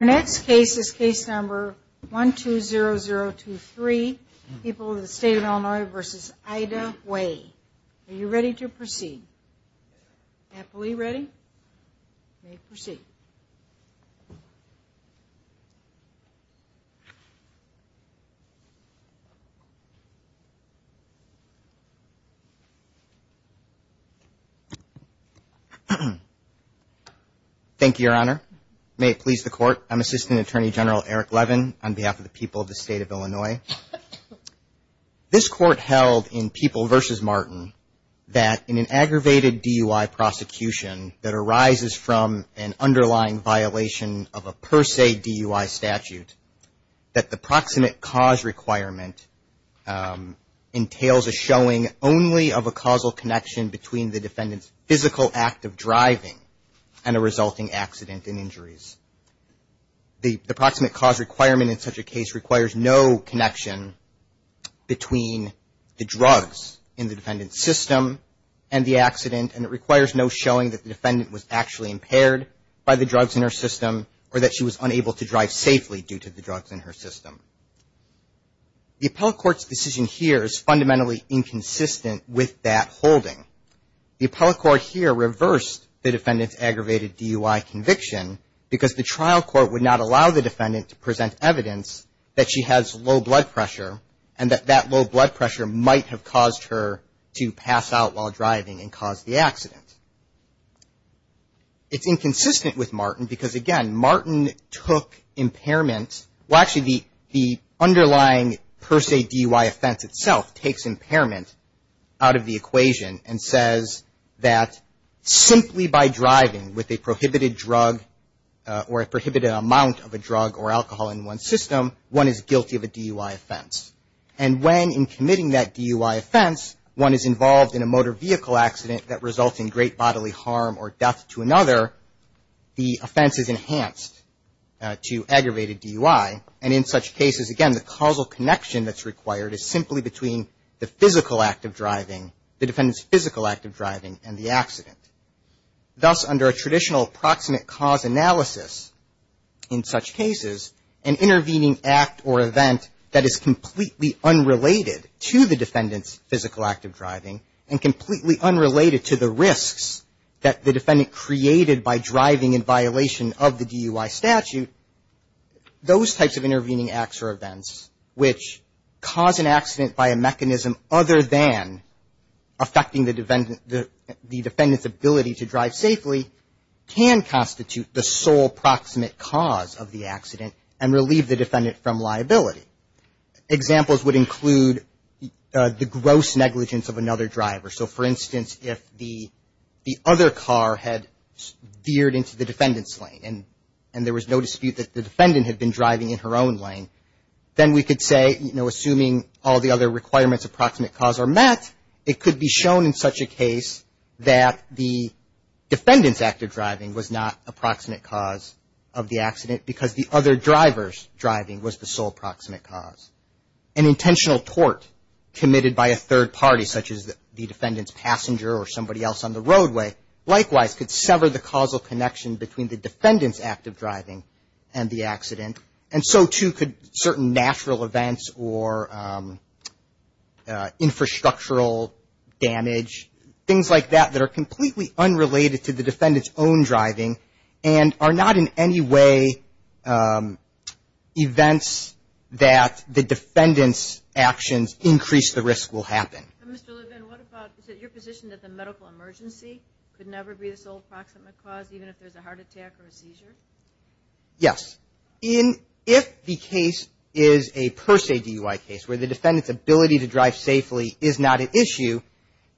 The next case is case number 120023, People of the State of Illinois v. Ida Way. Are you ready to proceed? I'm Assistant Attorney General Eric Levin on behalf of the People of the State of Illinois. This court held in People v. Martin that in an aggravated DUI prosecution that arises from an underlying violation of a per se DUI statute, that the proximate cause requirement entails a showing only of a causal connection between the defendant's physical act of driving and a resulting accident and injuries. The proximate cause requirement in such a case requires no connection between the drugs in the defendant's system and the accident and it requires no showing that the defendant was actually impaired by the drugs in her system or that she was unable to drive safely due to the drugs in her system. The appellate court's decision here is fundamentally inconsistent with that holding. The appellate court here reversed the defendant's aggravated DUI conviction because the trial court would not allow the defendant to present evidence that she has low blood pressure and that that low blood pressure might have caused her to pass out while driving and cause the accident. It's inconsistent with Martin because, again, Martin took impairment well, actually the underlying per se DUI offense itself takes impairment out of the equation and says that simply by driving with a prohibited drug or a prohibited amount of a drug or alcohol in one's system, one is guilty of a DUI offense. And when in committing that DUI offense, one is involved in a motor vehicle accident that results in great bodily harm or death to another, the offense is enhanced to aggravated DUI and in such cases, again, the causal connection that's required is simply between the physical act of driving, the defendant's physical act of driving and the accident. Thus, under a traditional approximate cause analysis in such cases, an intervening act or event that is completely unrelated to the defendant's physical act of driving and completely unrelated to the risks that the defendant created by driving in violation of the DUI statute, those types of intervening acts or events which cause an accident by a mechanism other than affecting the defendant's ability to drive safely, can constitute the sole proximate cause of the accident and relieve the defendant from liability. Examples would include the gross negligence of another driver. So, for instance, if the other car had veered into the defendant's lane and there was no dispute that the defendant had been driving in her own lane, then we could say, you know, assuming all the other requirements approximate cause are met, it could be shown in such a case that the defendant's act of driving was not approximate cause of the accident because the other driver's driving was the sole proximate cause. An intentional tort committed by a third party, such as the defendant's passenger or somebody else on the roadway, likewise could sever the causal connection between the defendant's act of driving and the accident. And so, too, could certain natural events or infrastructural damage, things like that that are completely unrelated to the defendant's own driving and are not in any way events that the defendant's actions increase the risk will happen. And, Mr. Levin, what about your position that the medical emergency could never be the sole proximate cause, even if there's a heart attack or a seizure? Yes. If the case is a per se DUI case where the defendant's ability to drive safely is not an issue,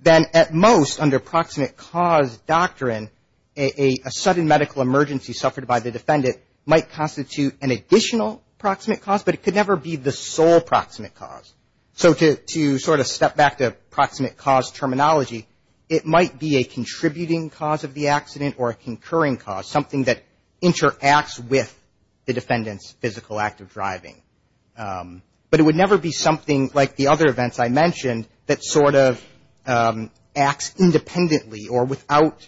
then at most under proximate cause doctrine, a sudden medical emergency suffered by the defendant might constitute an additional proximate cause, but it could never be the sole proximate cause. So to sort of step back to proximate cause terminology, it might be a contributing cause of the accident or a concurring cause, But it would never be something like the other events I mentioned that sort of acts independently or without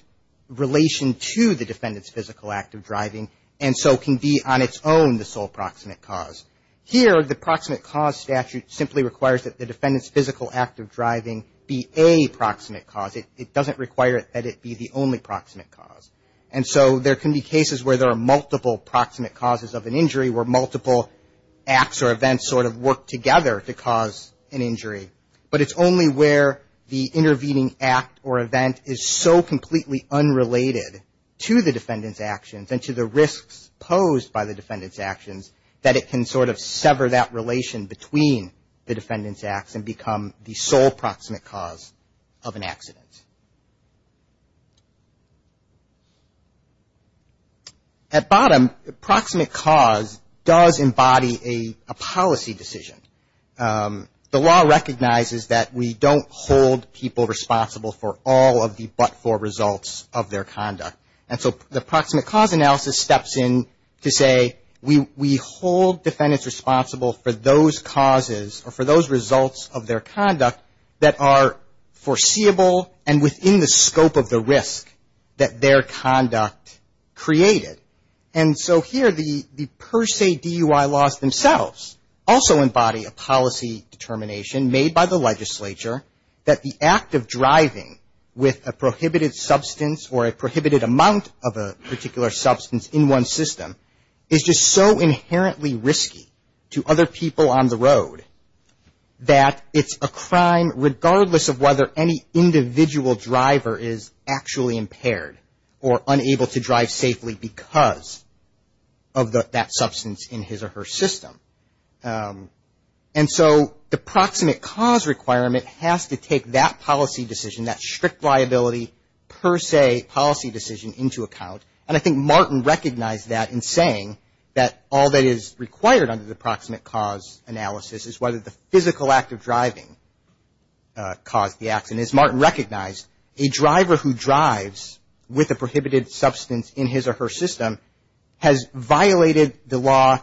relation to the defendant's physical act of driving and so can be on its own the sole proximate cause. Here, the proximate cause statute simply requires that the defendant's physical act of driving be a proximate cause. It doesn't require that it be the only proximate cause. And so there can be cases where there are multiple proximate causes of an injury or multiple acts or events sort of work together to cause an injury. But it's only where the intervening act or event is so completely unrelated to the defendant's actions and to the risks posed by the defendant's actions that it can sort of sever that relation between the defendant's acts and become the sole proximate cause of an accident. At bottom, proximate cause does embody a policy decision. The law recognizes that we don't hold people responsible for all of the but-for results of their conduct. And so the proximate cause analysis steps in to say we hold defendants responsible for those causes or for those results of their conduct that are foreseeable, and within the scope of the risk that their conduct created. And so here, the per se DUI laws themselves also embody a policy determination made by the legislature that the act of driving with a prohibited substance or a prohibited amount of a particular substance in one system is just so inherently risky to other people on the road that it's a crime regardless of whether any individual driver is actually impaired or unable to drive safely because of that substance in his or her system. And so the proximate cause requirement has to take that policy decision, that strict liability per se policy decision into account. And I think Martin recognized that in saying that all that is required under the proximate cause analysis is whether the physical act of driving caused the accident. As Martin recognized, a driver who drives with a prohibited substance in his or her system has violated the law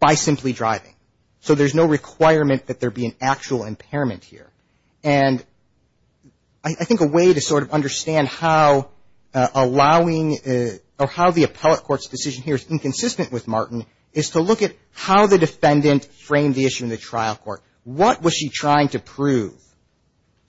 by simply driving. So there's no requirement that there be an actual impairment here. And I think a way to sort of understand how allowing or how the appellate court's decision here is inconsistent with Martin is to look at how the defendant framed the issue in the trial court. What was she trying to prove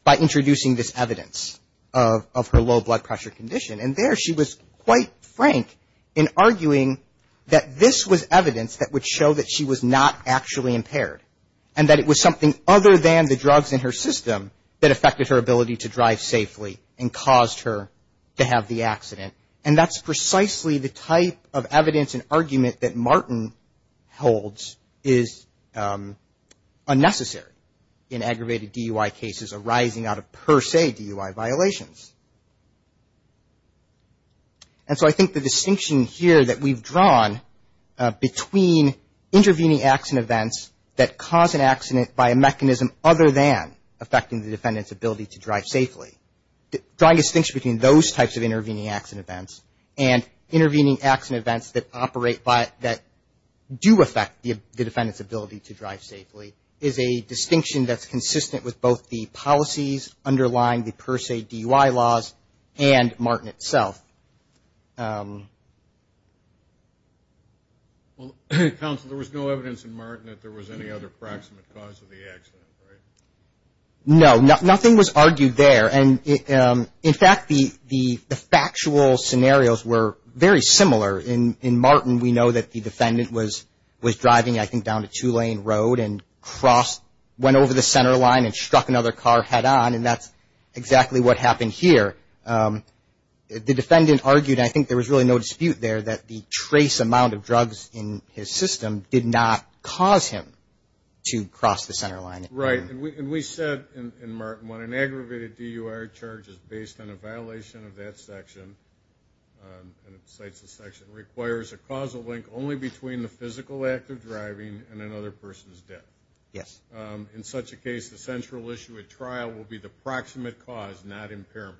by introducing this evidence of her low blood pressure condition? And there she was quite frank in arguing that this was evidence that would show that she was not actually impaired and that it was something other than the drugs in her system that affected her ability to drive safely and caused her to have the accident. And that's precisely the type of evidence and argument that Martin holds is unnecessary in aggravated DUI cases arising out of per se DUI violations. And so I think the distinction here that we've drawn between intervening acts and events that cause an accident by a mechanism other than affecting the defendant's ability to drive safely, drawing a distinction between those types of intervening acts and events and intervening acts and events that operate by that do affect the defendant's ability to drive safely is a distinction that's consistent with both the policies underlying the per se DUI laws and Martin itself. Well, counsel, there was no evidence in Martin that there was any other proximate cause of the accident, right? No, nothing was argued there. And in fact, the factual scenarios were very similar. In Martin, we know that the defendant was driving, I think, down a two-lane road and went over the center line and struck another car head-on, and that's exactly what happened here. The defendant argued, and I think there was really no dispute there, that the trace amount of drugs in his system did not cause him to cross the center line. Right. And we said in Martin when an aggravated DUI charge is based on a violation of that section, and it cites the section, requires a causal link only between the physical act of driving and another person's death. Yes. In such a case, the central issue at trial will be the proximate cause, not impairment,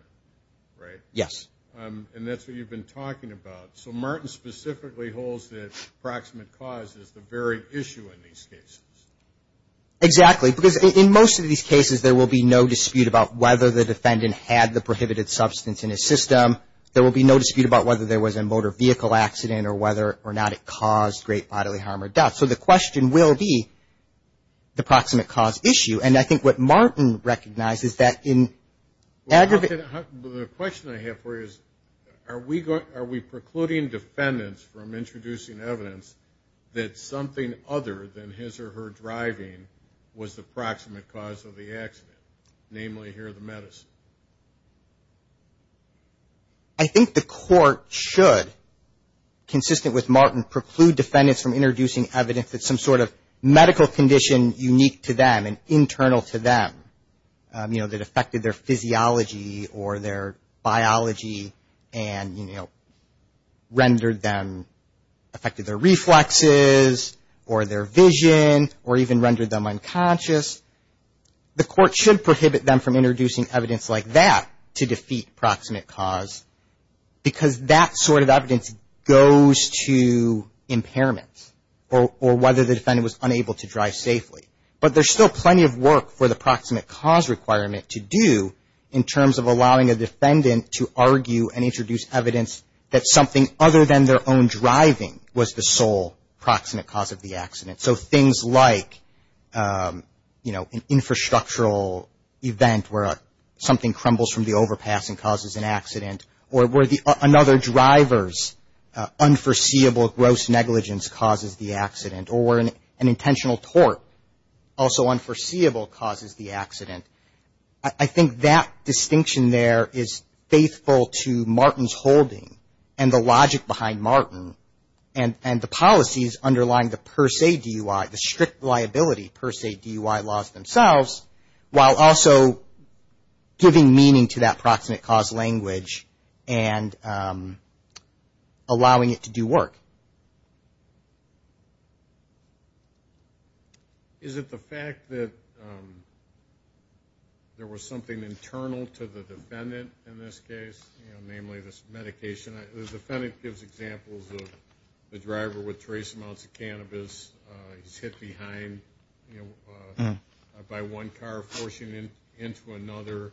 right? Yes. And that's what you've been talking about. So Martin specifically holds that proximate cause is the very issue in these cases. Exactly, because in most of these cases, there will be no dispute about whether the defendant had the prohibited substance in his system. There will be no dispute about whether there was a motor vehicle accident or whether or not it caused great bodily harm or death. So the question will be the proximate cause issue. And I think what Martin recognizes that in aggravated... Well, the question I have for you is, are we precluding defendants from introducing evidence that something other than his or her driving was the proximate cause of the accident, namely here the medicine? I think the court should, consistent with Martin, preclude defendants from introducing evidence that some sort of medical condition unique to them and internal to them, you know, that affected their physiology or their biology and, you know, rendered them, affected their reflexes or their vision or even rendered them unconscious. The court should prohibit them from introducing evidence like that to defeat proximate cause because that sort of evidence goes to impairment or whether the defendant was unable to drive safely. But there's still plenty of work for the proximate cause requirement to do in terms of allowing a defendant to argue and introduce evidence that something other than their own driving was the sole proximate cause of the accident. So things like, you know, an infrastructural event where something crumbles from the overpass and causes an accident or where another driver's unforeseeable gross negligence causes the accident or where an intentional tort, also unforeseeable, causes the accident. I think that distinction there is faithful to Martin's holding and the logic behind Martin and the policies underlying the per se DUI, the strict liability per se DUI laws themselves, while also giving meaning to that proximate cause language and allowing it to do work. Is it the fact that there was something internal to the defendant in this case, you know, namely this medication? The defendant gives examples of the driver with trace amounts of cannabis. He's hit behind by one car, forcing him into another,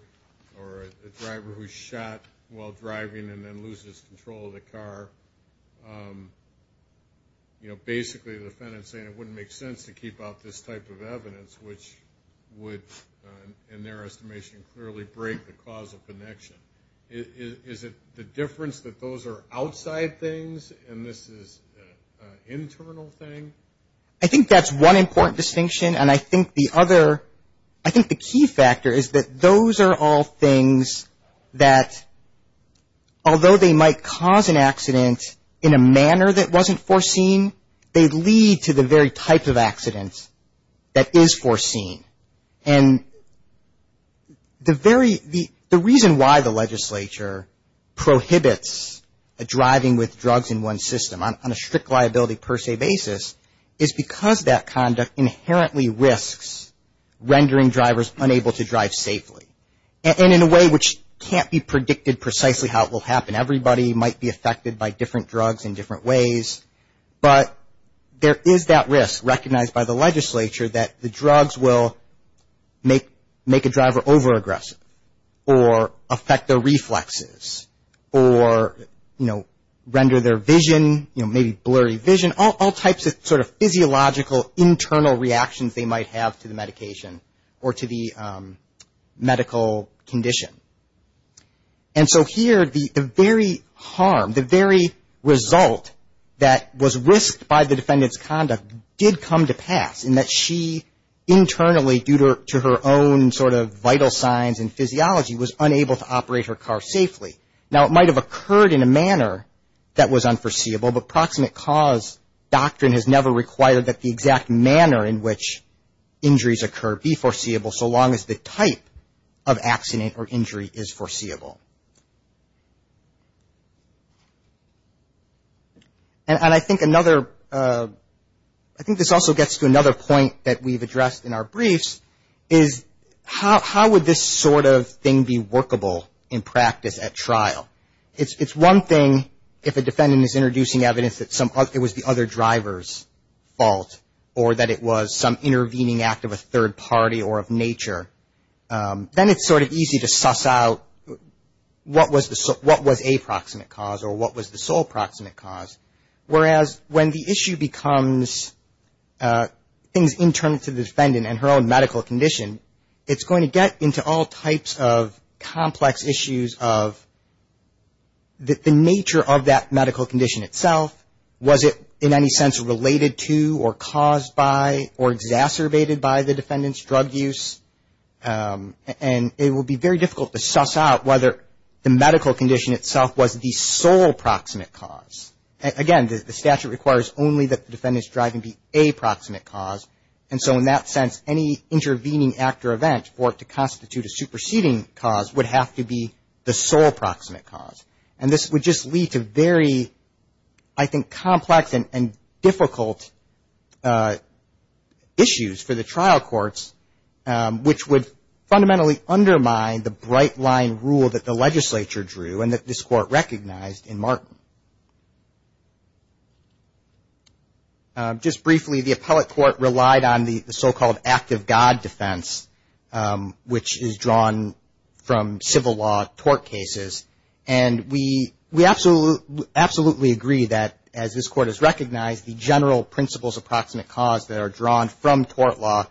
or the driver who's shot while driving and then loses control of the car. You know, basically the defendant's saying it wouldn't make sense to keep out this type of evidence, which would, in their estimation, clearly break the causal connection. Is it the difference that those are outside things and this is an internal thing? I think that's one important distinction. And I think the other, I think the key factor is that those are all things that, although they might cause an accident in a manner that wasn't foreseen, they lead to the very type of accident that is foreseen. And the very, the reason why the legislature prohibits driving with drugs in one system, on a strict liability per se basis, is because that conduct inherently risks rendering drivers unable to drive safely. And in a way which can't be predicted precisely how it will happen. Everybody might be affected by different drugs in different ways, but there is that risk recognized by the legislature that the drugs will make a driver overaggressive, or affect their reflexes, or, you know, render their vision, you know, maybe blurry vision, all types of sort of physiological internal reactions they might have to the medication or to the medical condition. And so here the very harm, the very result that was risked by the defendant's conduct did come to pass, in that she internally, due to her own sort of vital signs and physiology, was unable to operate her car safely. Now it might have occurred in a manner that was unforeseeable, but proximate cause doctrine has never required that the exact manner in which injuries occur be foreseeable, so long as the type of accident or injury is foreseeable. And I think another, I think this also gets to another point that we've addressed in our briefs, is how would this sort of thing be workable in practice at trial? It's one thing if a defendant is introducing evidence that it was the other driver's fault, or that it was some intervening act of a third party or of nature, then it's sort of easy to suss out what was a proximate cause or what was the sole proximate cause. Whereas when the issue becomes things internal to the defendant and her own medical condition, it's going to get into all types of complex issues of the nature of that medical condition itself, was it in any sense related to or caused by or exacerbated by the defendant's drug use. And it will be very difficult to suss out whether the medical condition itself was the sole proximate cause. Again, the statute requires only that the defendant's driving be a proximate cause. And so in that sense, any intervening act or event for it to constitute a superseding cause would have to be the sole proximate cause. And this would just lead to very, I think, complex and difficult issues for the trial courts, which would fundamentally undermine the bright line rule that the legislature drew and that this court recognized in Martin. Just briefly, the appellate court relied on the so-called act of God defense, which is drawn from civil law tort cases. And we absolutely agree that as this court has recognized, the general principles of proximate cause that are drawn from tort law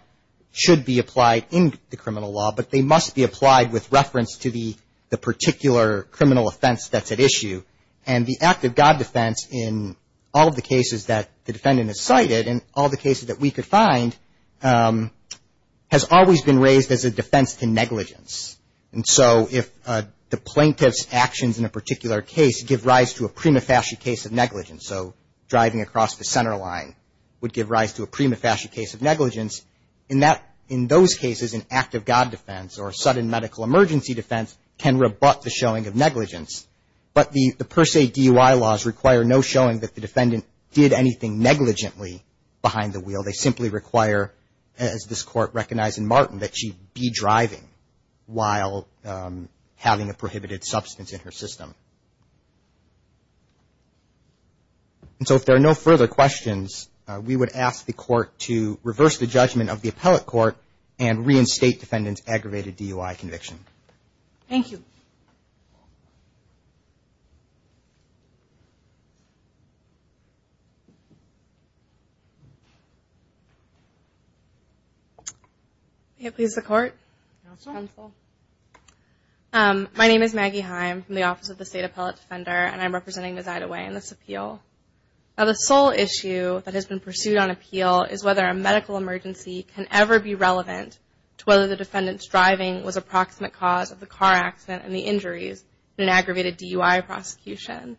should be applied in the criminal law, but they must be applied with reference to the particular criminal offense that's at issue. And the act of God defense in all of the cases that the defendant has cited and all the cases that we could find has always been raised as a defense to negligence. And so if the plaintiff's actions in a particular case give rise to a prima facie case of negligence, so driving across the center line would give rise to a prima facie case of negligence, in those cases an act of God defense or a sudden medical emergency defense can rebut the showing of negligence. But the per se DUI laws require no showing that the defendant did anything negligently behind the wheel. They simply require, as this court recognized in Martin, that she be driving while having a prohibited substance in her system. And so if there are no further questions, we would ask the court to reverse the judgment of the appellate court and reinstate defendant's aggravated DUI conviction. Maggie Heim. My name is Maggie Heim from the Office of the State Appellate Defender and I'm representing Ms. Idaway in this appeal. Now the sole issue that has been pursued on appeal is whether a medical emergency can ever be relevant to whether the defendant's driving was a proximate cause of the car accident and the injuries in an aggravated DUI prosecution.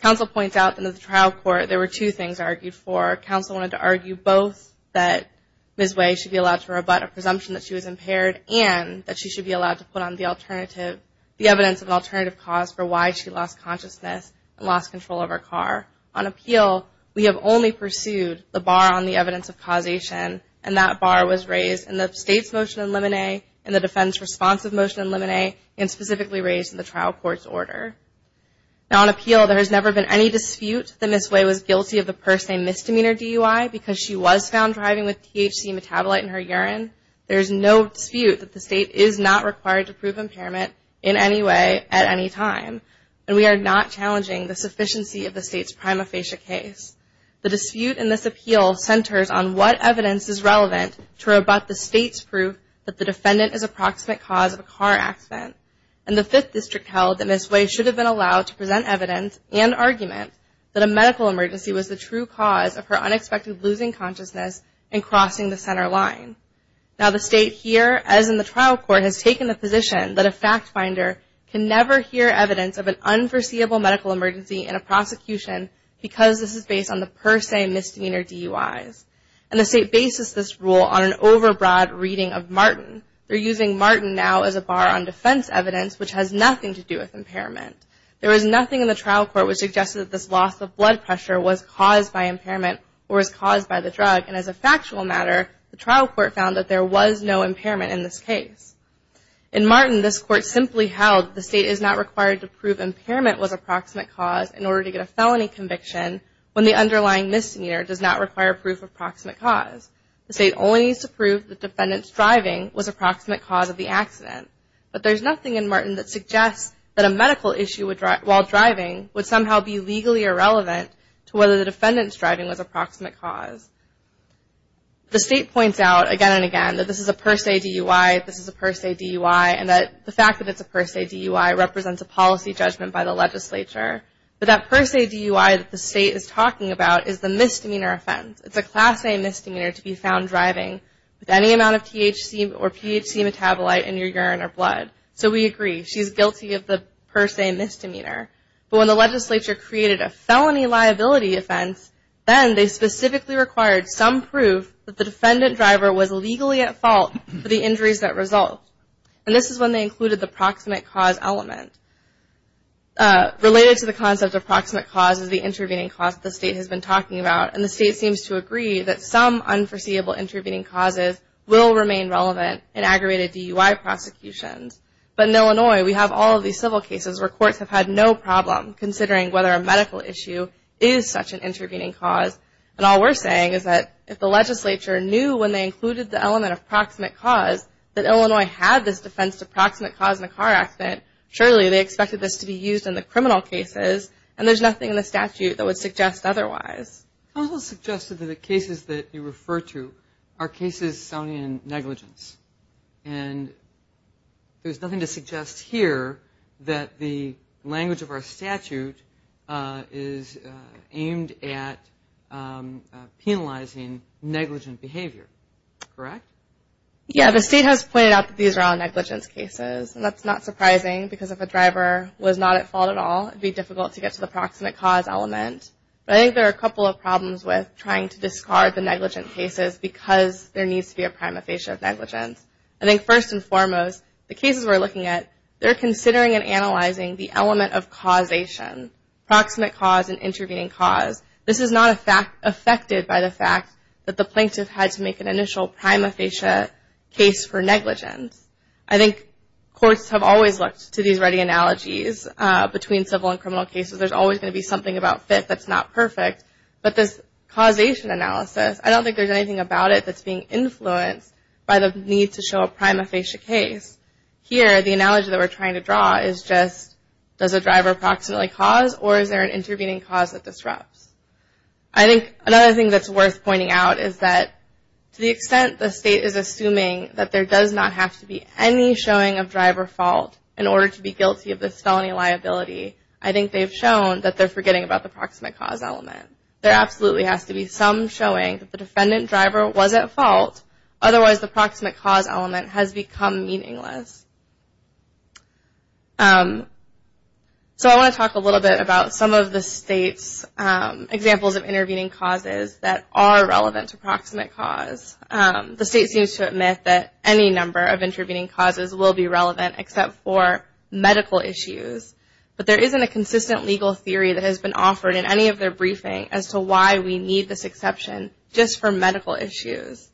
Counsel points out in the trial court there were two things argued for. Counsel wanted to argue both that Ms. Idaway should be allowed to rebut a presumption that she was impaired and that she should be allowed to put on the evidence of alternative cause for why she lost consciousness and lost control of her car. On appeal we have only pursued the bar on the evidence of causation and that bar was raised in the state's motion in limine and the defense response of motion in limine and specifically raised in the trial court's order. Now on appeal there has never been any dispute that Ms. Idaway was guilty of the per se misdemeanor DUI because she was found driving with THC metabolite in her urine. There is no dispute that the state is not required to prove impairment in any way at any time and we are not challenging the sufficiency of the state's prima facie case. The dispute in this appeal centers on what evidence is relevant to rebut the state's proof that the defendant is a proximate cause of a car accident and the 5th district held that Ms. Idaway should have been allowed to present evidence and argument that a medical emergency was the true cause of her unexpected losing consciousness and crossing the center line. Now the state here as in the trial court has taken the position that a fact finder can never hear evidence of an unforeseeable medical emergency in a prosecution because this is based on the per se misdemeanor DUIs and the state bases this rule on an over broad reading of Martin. They're using Martin now as a bar on defense evidence which has nothing to do with impairment. There is nothing in the trial court which suggests that this loss of blood pressure was caused by impairment or was caused by the drug and as a factual matter the trial court found that there was no impairment in this case. In Martin this court simply held the state is not required to prove impairment was a proximate cause in order to get a felony conviction when the underlying misdemeanor does not require proof of proximate cause. The state only needs to prove the defendant's driving was a proximate cause of the accident. But there's nothing in Martin that suggests that a medical issue while driving would somehow be legally irrelevant to whether the defendant's driving was a proximate cause. The state points out again and again that this is a per se DUI, this is a per se DUI, and that the fact that it's a per se DUI represents a policy judgment by the legislature. But that per se DUI that the state is talking about is the misdemeanor offense. It's a class A misdemeanor to be found driving with any amount of THC or THC metabolite in your urine or blood. So we agree, she's guilty of the per se misdemeanor. But when the legislature created a felony liability offense, then they specifically required some proof that the defendant driver was legally at fault for the injuries that result. And this is when they included the proximate cause element. Related to the concept of proximate cause is the intervening cause that the state has been talking about. And the state seems to agree that some unforeseeable intervening causes will remain relevant in aggravated DUI prosecutions. But in Illinois, we have all of these civil cases where courts have had no problem considering whether a medical issue is such an intervening cause. And all we're saying is that if the legislature knew when they included the element of proximate cause that Illinois had this defense to proximate cause in a car accident, surely they expected this to be used in the criminal cases and there's nothing in the statute that would suggest otherwise. Counsel suggested that the cases that you refer to are cases sounding in negligence. And there's nothing to suggest here that the language of our statute is aimed at penalizing negligent behavior, correct? Yeah, the state has pointed out that these are all negligence cases. And that's not surprising because if a driver was not at fault at all, it would be difficult to get to the proximate cause element. But I think there are a couple of problems with trying to discard the negligent cases because there needs to be a prima facie of negligence. I think first and foremost, the cases we're looking at, they're considering and analyzing the element of causation, proximate cause, and intervening cause. This is not affected by the fact that the plaintiff had to make an initial prima facie case for negligence. I think courts have always looked to these ready analogies between civil and criminal cases. There's always going to be something about fit that's not perfect. But this causation analysis, I don't think there's anything about it that's being influenced by the need to show a prima facie case. Here, the analogy that we're trying to draw is just, does a driver proximately cause or is there an intervening cause that disrupts? I think another thing that's worth pointing out is that to the extent the state is assuming that there does not have to be any showing of driver fault in order to be guilty of this felony liability, I think they've shown that they're forgetting about the proximate cause element. There absolutely has to be some showing that the defendant driver was at fault, otherwise the proximate cause element has become meaningless. So I want to talk a little bit about some of the state's examples of intervening causes that are relevant to proximate cause. The state seems to admit that any number of intervening causes will be relevant except for medical issues. But there isn't a consistent legal theory that has been offered in any of their briefing as to why we need this exception just for medical issues.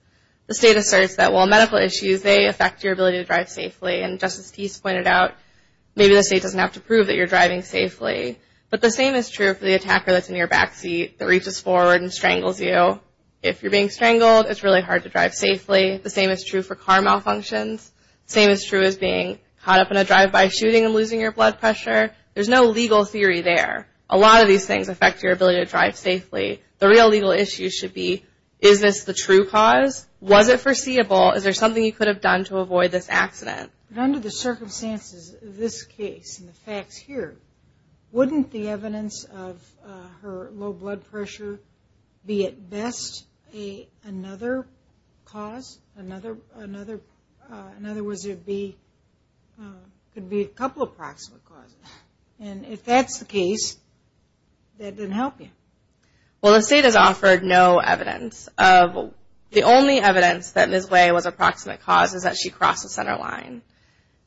The state asserts that while medical issues, they affect your ability to drive safely. And Justice Tease pointed out, maybe the state doesn't have to prove that you're driving safely. But the same is true for the attacker that's in your backseat that reaches forward and strangles you. If you're being strangled, it's really hard to drive safely. The same is true for car malfunctions. The same is true as being caught up in a drive-by shooting and losing your blood pressure. There's no legal theory there. A lot of these things affect your ability to drive safely. The real legal issue should be, is this the true cause? Was it foreseeable? Is there something you could have done to avoid this accident? But under the circumstances of this case and the facts here, wouldn't the evidence of her low blood pressure be at best another cause? In other words, it could be a couple of proximate causes. And if that's the case, that didn't help you. Well, the state has offered no evidence. The only evidence that Ms. Way was a proximate cause is that she crossed the center line.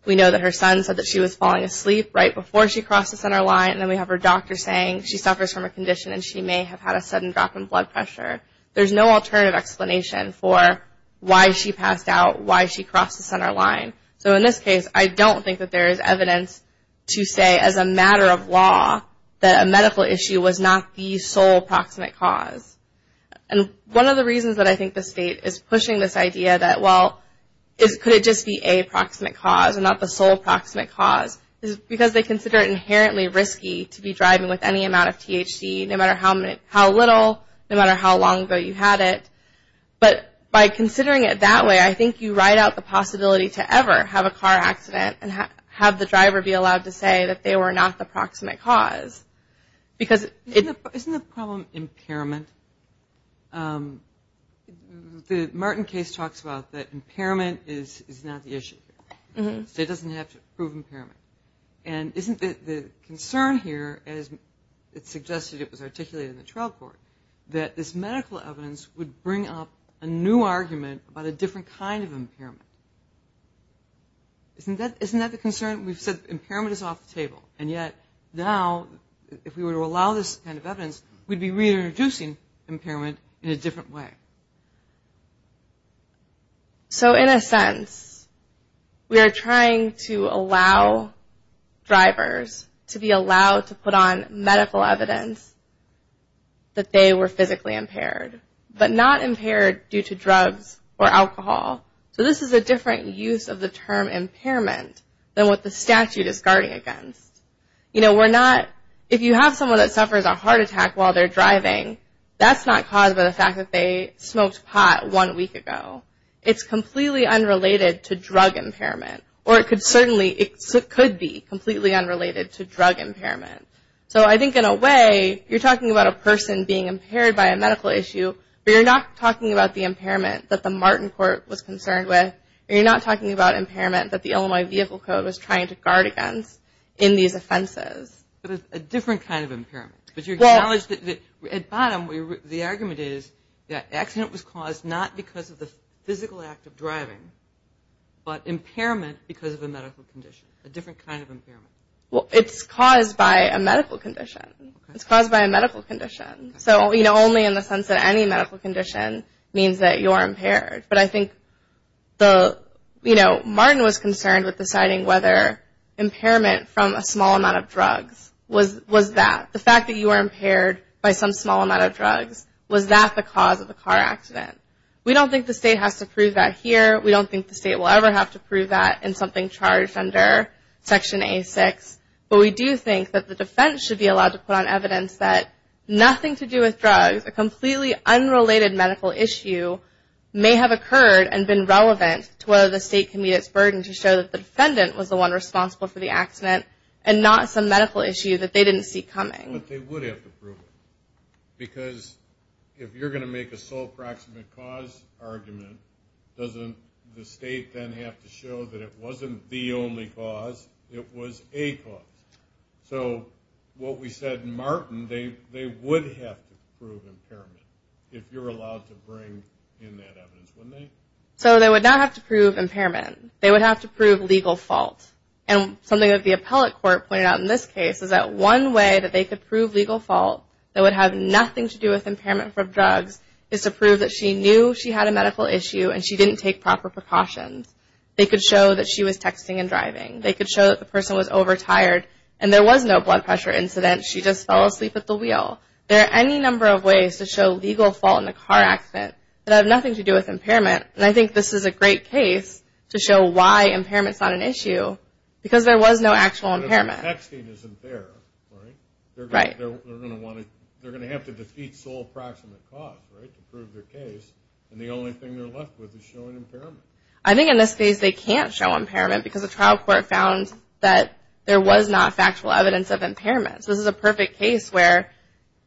We know that her son said that she was falling asleep right before she crossed the center line. And then we have her doctor saying she suffers from a condition and she may have had a sudden drop in blood pressure. There's no alternative explanation for why she passed out, why she crossed the center line. So in this case, I don't think that there is evidence to say as a matter of law that a medical issue was not the sole proximate cause. And one of the reasons that I think the state is pushing this idea that, well, could it just be a proximate cause and not the sole proximate cause, is because they consider it inherently risky to be driving with any amount of THC, no matter how little, no matter how long ago you had it. But by considering it that way, I think you ride out the possibility to ever have a car accident and have the driver be allowed to say that they were not the proximate cause. Isn't the problem impairment? The Martin case talks about that impairment is not the issue. The state doesn't have to prove impairment. And isn't the concern here, as it suggested it was articulated in the trial court, that this medical evidence would bring up a new argument about a different kind of impairment? Isn't that the concern? We've said impairment is off the table, and yet now, if we were to allow this kind of evidence, we'd be reintroducing impairment in a different way. So in a sense, we are trying to allow drivers to be allowed to put on medical evidence that they were physically impaired, but not impaired due to drugs or alcohol. So this is a different use of the term impairment than what the statute is guarding against. If you have someone that suffers a heart attack while they're driving, that's not caused by the fact that they smoked pot one week ago. It's completely unrelated to drug impairment, or it could certainly be completely unrelated to drug impairment. So I think in a way, you're talking about a person being impaired by a medical issue, but you're not talking about the impairment that the Martin Court was concerned with, and you're not talking about impairment that the Illinois Vehicle Code was trying to guard against in these offenses. But a different kind of impairment. At bottom, the argument is that accident was caused not because of the physical act of driving, but impairment because of a medical condition, a different kind of impairment. Well, it's caused by a medical condition. So only in the sense that any medical condition means that you're impaired. But I think Martin was concerned with deciding whether impairment from a small amount of drugs was that. The fact that you were impaired by some small amount of drugs, was that the cause of the car accident? We don't think the state has to prove that here. We don't think the state will ever have to prove that in something charged under Section A6. But we do think that the defense should be allowed to put on evidence that nothing to do with drugs, a completely unrelated medical issue may have occurred and been relevant to whether the state can meet its burden to show that the defendant was the one responsible for the accident and not some medical issue that they didn't see coming. But they would have to prove it. Because if you're going to make a sole proximate cause argument, doesn't the state then have to show that it wasn't the only cause, it was a cause? So what we said in Martin, they would have to prove impairment, if you're allowed to bring in that evidence, wouldn't they? So they would not have to prove impairment, they would have to prove legal fault. And something that the appellate court pointed out in this case is that one way that they could prove legal fault that would have nothing to do with impairment from drugs is to prove that she knew she had a medical issue and she didn't take proper precautions. They could show that the person was overtired and there was no blood pressure incident, she just fell asleep at the wheel. There are any number of ways to show legal fault in a car accident that have nothing to do with impairment. And I think this is a great case to show why impairment is not an issue, because there was no actual impairment. They're going to have to defeat sole proximate cause to prove their case, and the only thing they're left with is showing impairment. I think in this case they can't show impairment because the trial court found that there was not factual evidence of impairment. So this is a perfect case where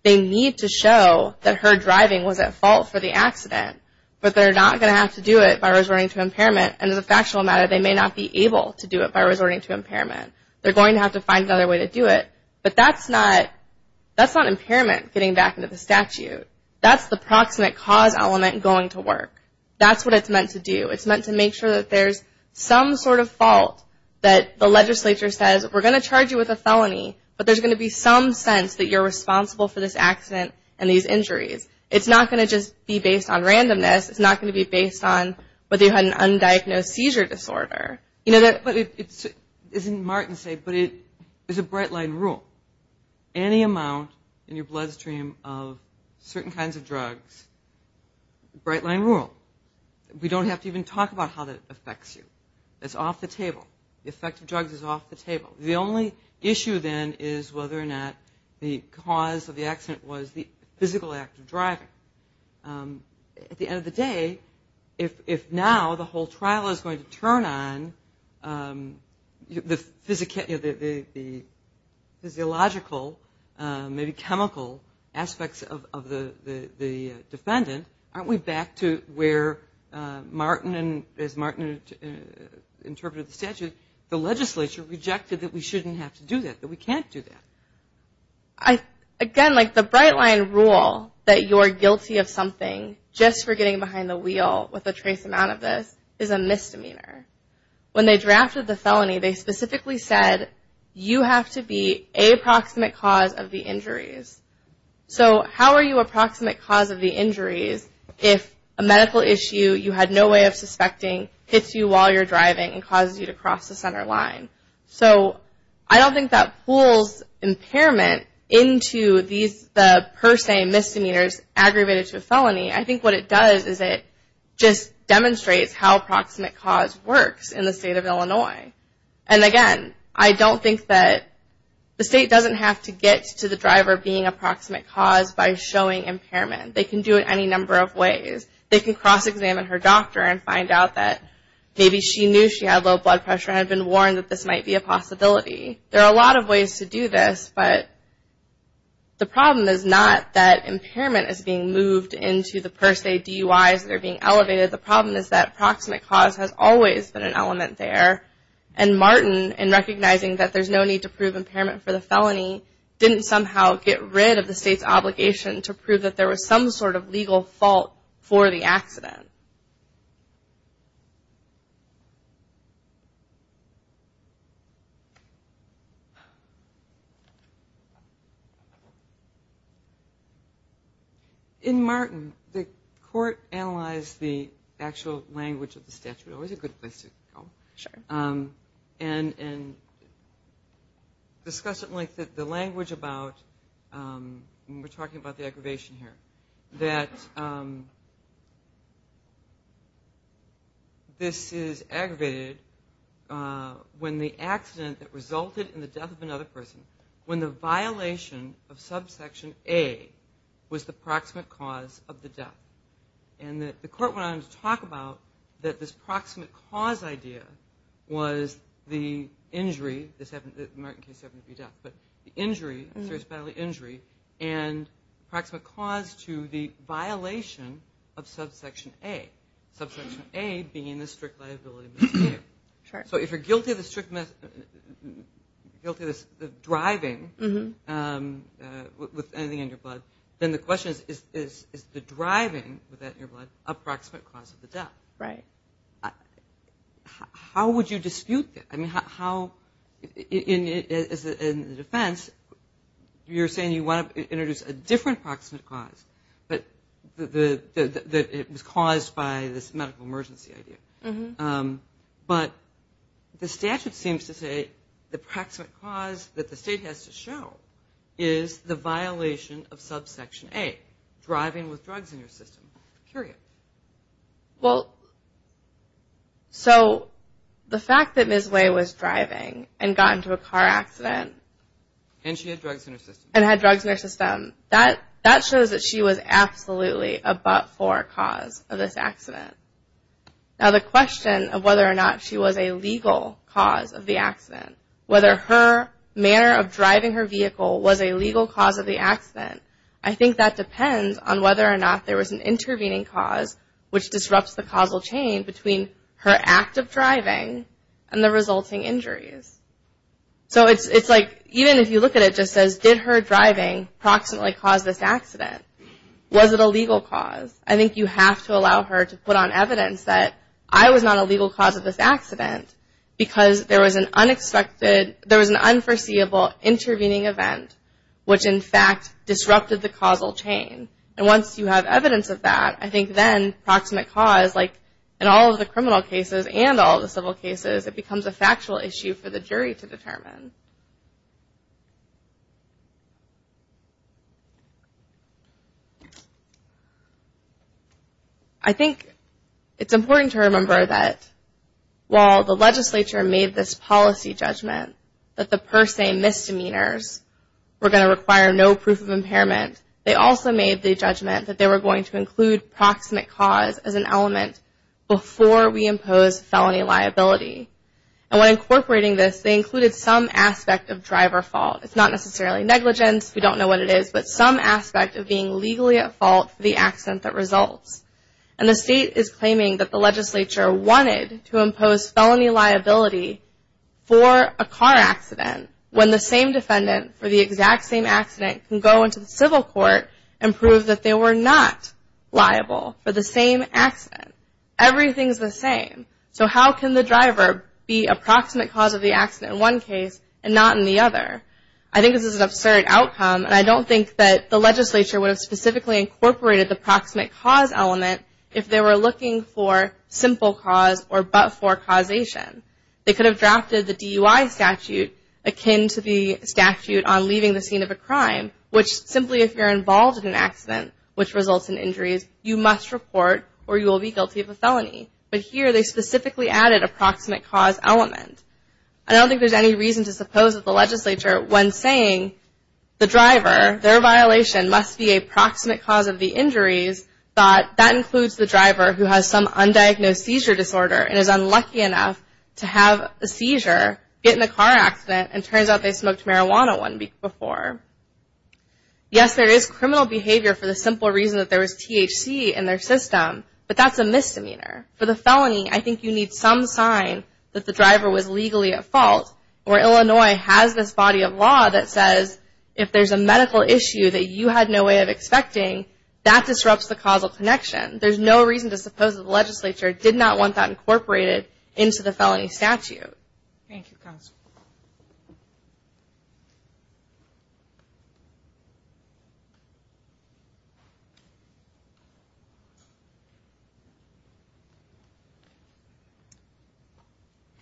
they need to show that her driving was at fault for the accident, but they're not going to have to do it by resorting to impairment, and as a factual matter they may not be able to do it by resorting to impairment. They're going to have to find another way to do it, but that's not impairment getting back into the statute. That's the proximate cause element going to work. That's what it's meant to do. It's meant to make sure that there's some sort of fault that the legislature says we're going to charge you with a felony, but there's going to be some sense that you're responsible for this accident and these injuries. It's not going to just be based on randomness. It's not going to be based on whether you had an undiagnosed seizure disorder. Any amount in your bloodstream of certain kinds of drugs, we don't have to even talk about how that affects you. It's off the table. The only issue then is whether or not the cause of the accident was the physical act of driving. At the end of the day, if now the whole trial is going to turn on the physiological, maybe chemical aspects of the defendant, aren't we back to where, as Martin interpreted the statute, the legislature rejected that we shouldn't have to do that, that we can't do that. Again, the bright line rule that you're guilty of something just for getting behind the wheel with a trace amount of this is a misdemeanor. When they drafted the felony, they specifically said you have to be a proximate cause of the injuries. How are you a proximate cause of the injuries if a medical issue you had no way of suspecting hits you while you're driving and causes you to cross the center line? I don't think that pulls impairment into the per se misdemeanors aggravated to a felony. I think what it does is it just demonstrates how proximate cause works in the state of Illinois. Again, I don't think that the state doesn't have to get to the driver being a proximate cause by showing impairment. They can do it any number of ways. They can cross-examine her doctor and find out that maybe she knew she had low blood pressure and had been warned that this might be a possibility. There are a lot of ways to do this, but the problem is not that impairment is being moved into the per se DUIs that are being elevated. The problem is that proximate cause has always been an element there, and Martin, in recognizing that there's no need to prove impairment for the felony, didn't somehow get rid of the state's obligation to prove that there was some sort of legal fault for the accident. In Martin, the court analyzed the actual language of the statute. Always a good place to go. And discussed the language about, and we're talking about the aggravation here, that this is aggravated when the accident that resulted in the death of another person, when the violation of subsection A was the proximate cause of the death. And the court went on to talk about that this proximate cause idea was the injury, and approximate cause to the violation of subsection A, subsection A being the strict liability misdemeanor. So if you're guilty of the driving with anything in your blood, then the question is, is the driving with that in your blood approximate cause of the death? How would you dispute that? In the defense, you're saying you want to introduce a different proximate cause, that it was caused by this medical emergency idea. But the statute seems to say the proximate cause that the state has to show is the violation of subsection A, driving with drugs in your system, period. Well, so the fact that Ms. Way was driving and got into a car accident. And she had drugs in her system. And had drugs in her system, that shows that she was absolutely a but-for cause of this accident. Now the question of whether or not she was a legal cause of the accident, whether her manner of driving her vehicle was a legal cause of the accident, I think that depends on whether or not there was an intervening cause, which disrupts the causal chain between her act of driving and the resulting injuries. So it's like, even if you look at it, it just says, did her driving proximately cause this accident? Was it a legal cause? I think you have to allow her to put on evidence that I was not a legal cause of this accident, because there was an unforeseeable intervening event, which in fact disrupted the causal chain. And once you have evidence of that, I think then proximate cause, like in all of the criminal cases and all the civil cases, it becomes a factual issue for the jury to determine. I think it's important to remember that while the legislature made this policy judgment that the per se misdemeanors were going to require no proof of impairment, they also made the judgment that they were going to include proximate cause as an element before we impose felony liability. And when incorporating this, they included some aspect of driver fault. It's not necessarily negligence, we don't know what it is, but some aspect of being legally at fault for the accident that results. And the state is claiming that the legislature wanted to impose felony liability for a car accident when the same defendant for the exact same accident can go into the civil court and prove that they were not liable for the same accident. Everything's the same. So how can the driver be a proximate cause of the accident in one case and not in the other? I think this is an absurd outcome, and I don't think that the legislature would have specifically incorporated the proximate cause element if they were looking for simple cause or but-for causation. They could have drafted the DUI statute akin to the statute on leaving the scene of a crime, which simply if you're involved in an accident which results in injuries, you must report or you will be guilty of a felony. But here they specifically added a proximate cause element. And I don't think there's any reason to suppose that the legislature, when saying the driver, their violation must be a proximate cause of the injuries, that that includes the driver who has some undiagnosed seizure disorder and is unlucky enough to have a seizure, get in a car accident, and turns out they smoked marijuana one week before. Yes, there is criminal behavior for the simple reason that there was THC in their system, but that's a misdemeanor. For the felony, I think you need some sign that the driver was legally at fault. Or Illinois has this body of law that says if there's a medical issue that you had no way of expecting, that disrupts the causal connection. There's no reason to suppose that the legislature did not want that incorporated into the felony statute. Thank you, Counsel.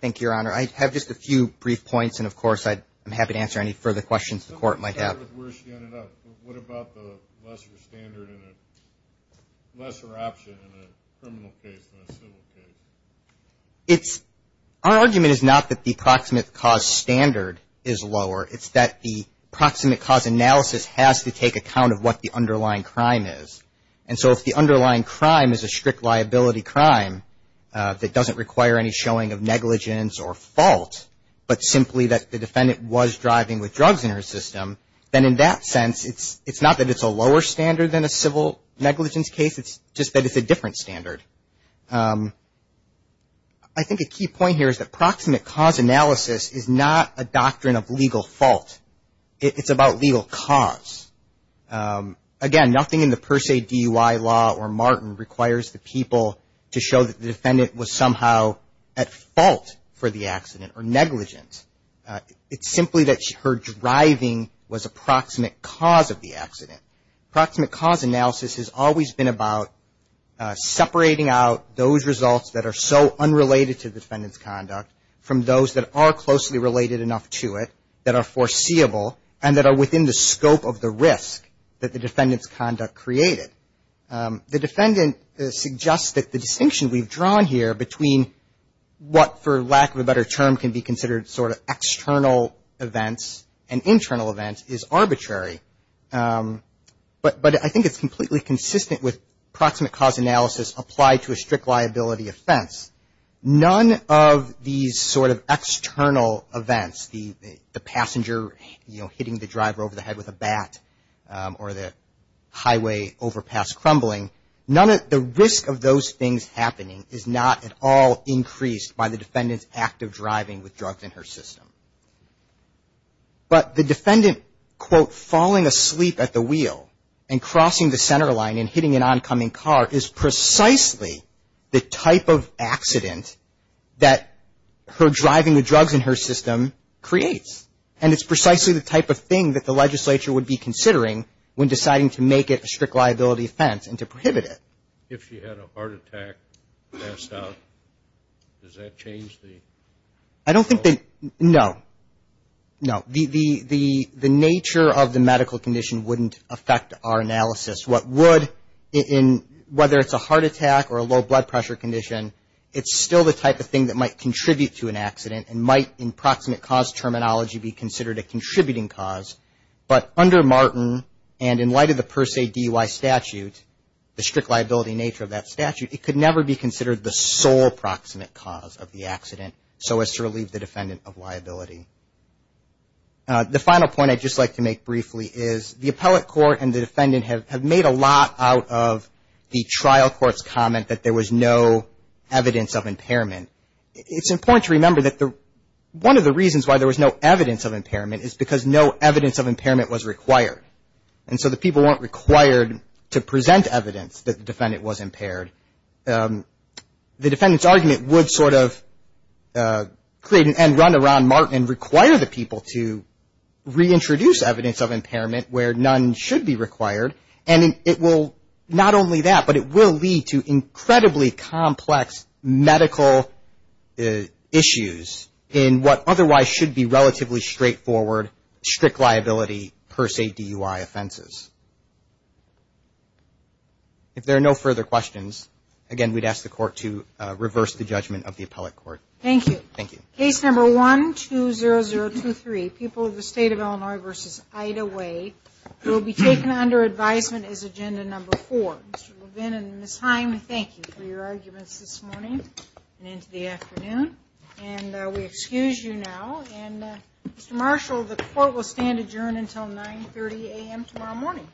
Thank you, Your Honor. I have just a few brief points, and of course I'm happy to answer any further questions the court might have. What about the lesser standard and a lesser option in a criminal case than a civil case? Our argument is not that the proximate cause standard is lower, it's that the proximate cause analysis has to take account of what the underlying crime is. And so if the underlying crime is a strict liability crime that doesn't require any showing of negligence or fault, but simply that the defendant was driving with drugs in her system, then in that sense it's not that it's a lower standard than a civil negligence case, it's just that it's a different standard. I think a key point here is that proximate cause analysis is not a doctrine of legal fault. It's about legal cause. Again, nothing in the per se DUI law or Martin requires the people to show that the defendant was somehow at fault for the accident or negligent. It's simply that her driving was a proximate cause of the accident. Proximate cause analysis has always been about separating out those results that are so unrelated to the defendant's conduct from those that are closely related enough to it that are foreseeable and that are within the scope of the risk that the defendant's conduct created. The defendant suggests that the distinction we've drawn here between what, for lack of a better term, can be considered sort of external events and internal events is arbitrary, but I think it's completely consistent with proximate cause analysis applied to a strict liability offense. None of these sort of external events, the passenger, you know, hitting the driver over the head with a bat or the highway overpass crumbling, none of the risk of those things happening is not at all increased by the defendant's active driving with drugs in her system. But the defendant, quote, falling asleep at the wheel and crossing the center line and hitting an oncoming car is precisely the type of accident that her driving the drugs in her system creates, and it's precisely the type of thing that the legislature would be considering when deciding to make it a strict liability offense and to prohibit it. If she had a heart attack, passed out, does that change the? I don't think that, no, no. The nature of the medical condition wouldn't affect our analysis. What would, whether it's a heart attack or a low blood pressure condition, it's still the type of thing that might contribute to an accident and might, in proximate cause terminology, be considered a contributing cause, but under Martin and in light of the per se DUI statute, the strict liability nature of that statute, it could never be considered the sole proximate cause of the accident so as to relieve the defendant of liability. The final point I'd just like to make briefly is the appellate court and the defendant have made a lot out of the trial court's comment that there was no evidence of impairment. It's important to remember that one of the reasons why there was no evidence of impairment is because no evidence of impairment was required, and so the people weren't required to present evidence that the defendant was impaired. The defendant's argument would sort of create and run around Martin and require the people to reintroduce evidence of impairment where none should be required, and it will, not only that, but it will lead to incredibly complex medical issues in what otherwise should be relatively straightforward strict liability per se DUI offenses. If there are no further questions, again, we'd ask the court to reverse the judgment of the appellate court. Thank you. Case number 120023, People of the State of Illinois v. Ida Way, will be taken under advisement as agenda number four. Mr. Levin and Ms. Heim, thank you for your arguments this morning and into the afternoon, and we excuse you now. Mr. Marshall, the court will stand adjourned until 9.30 a.m. tomorrow morning.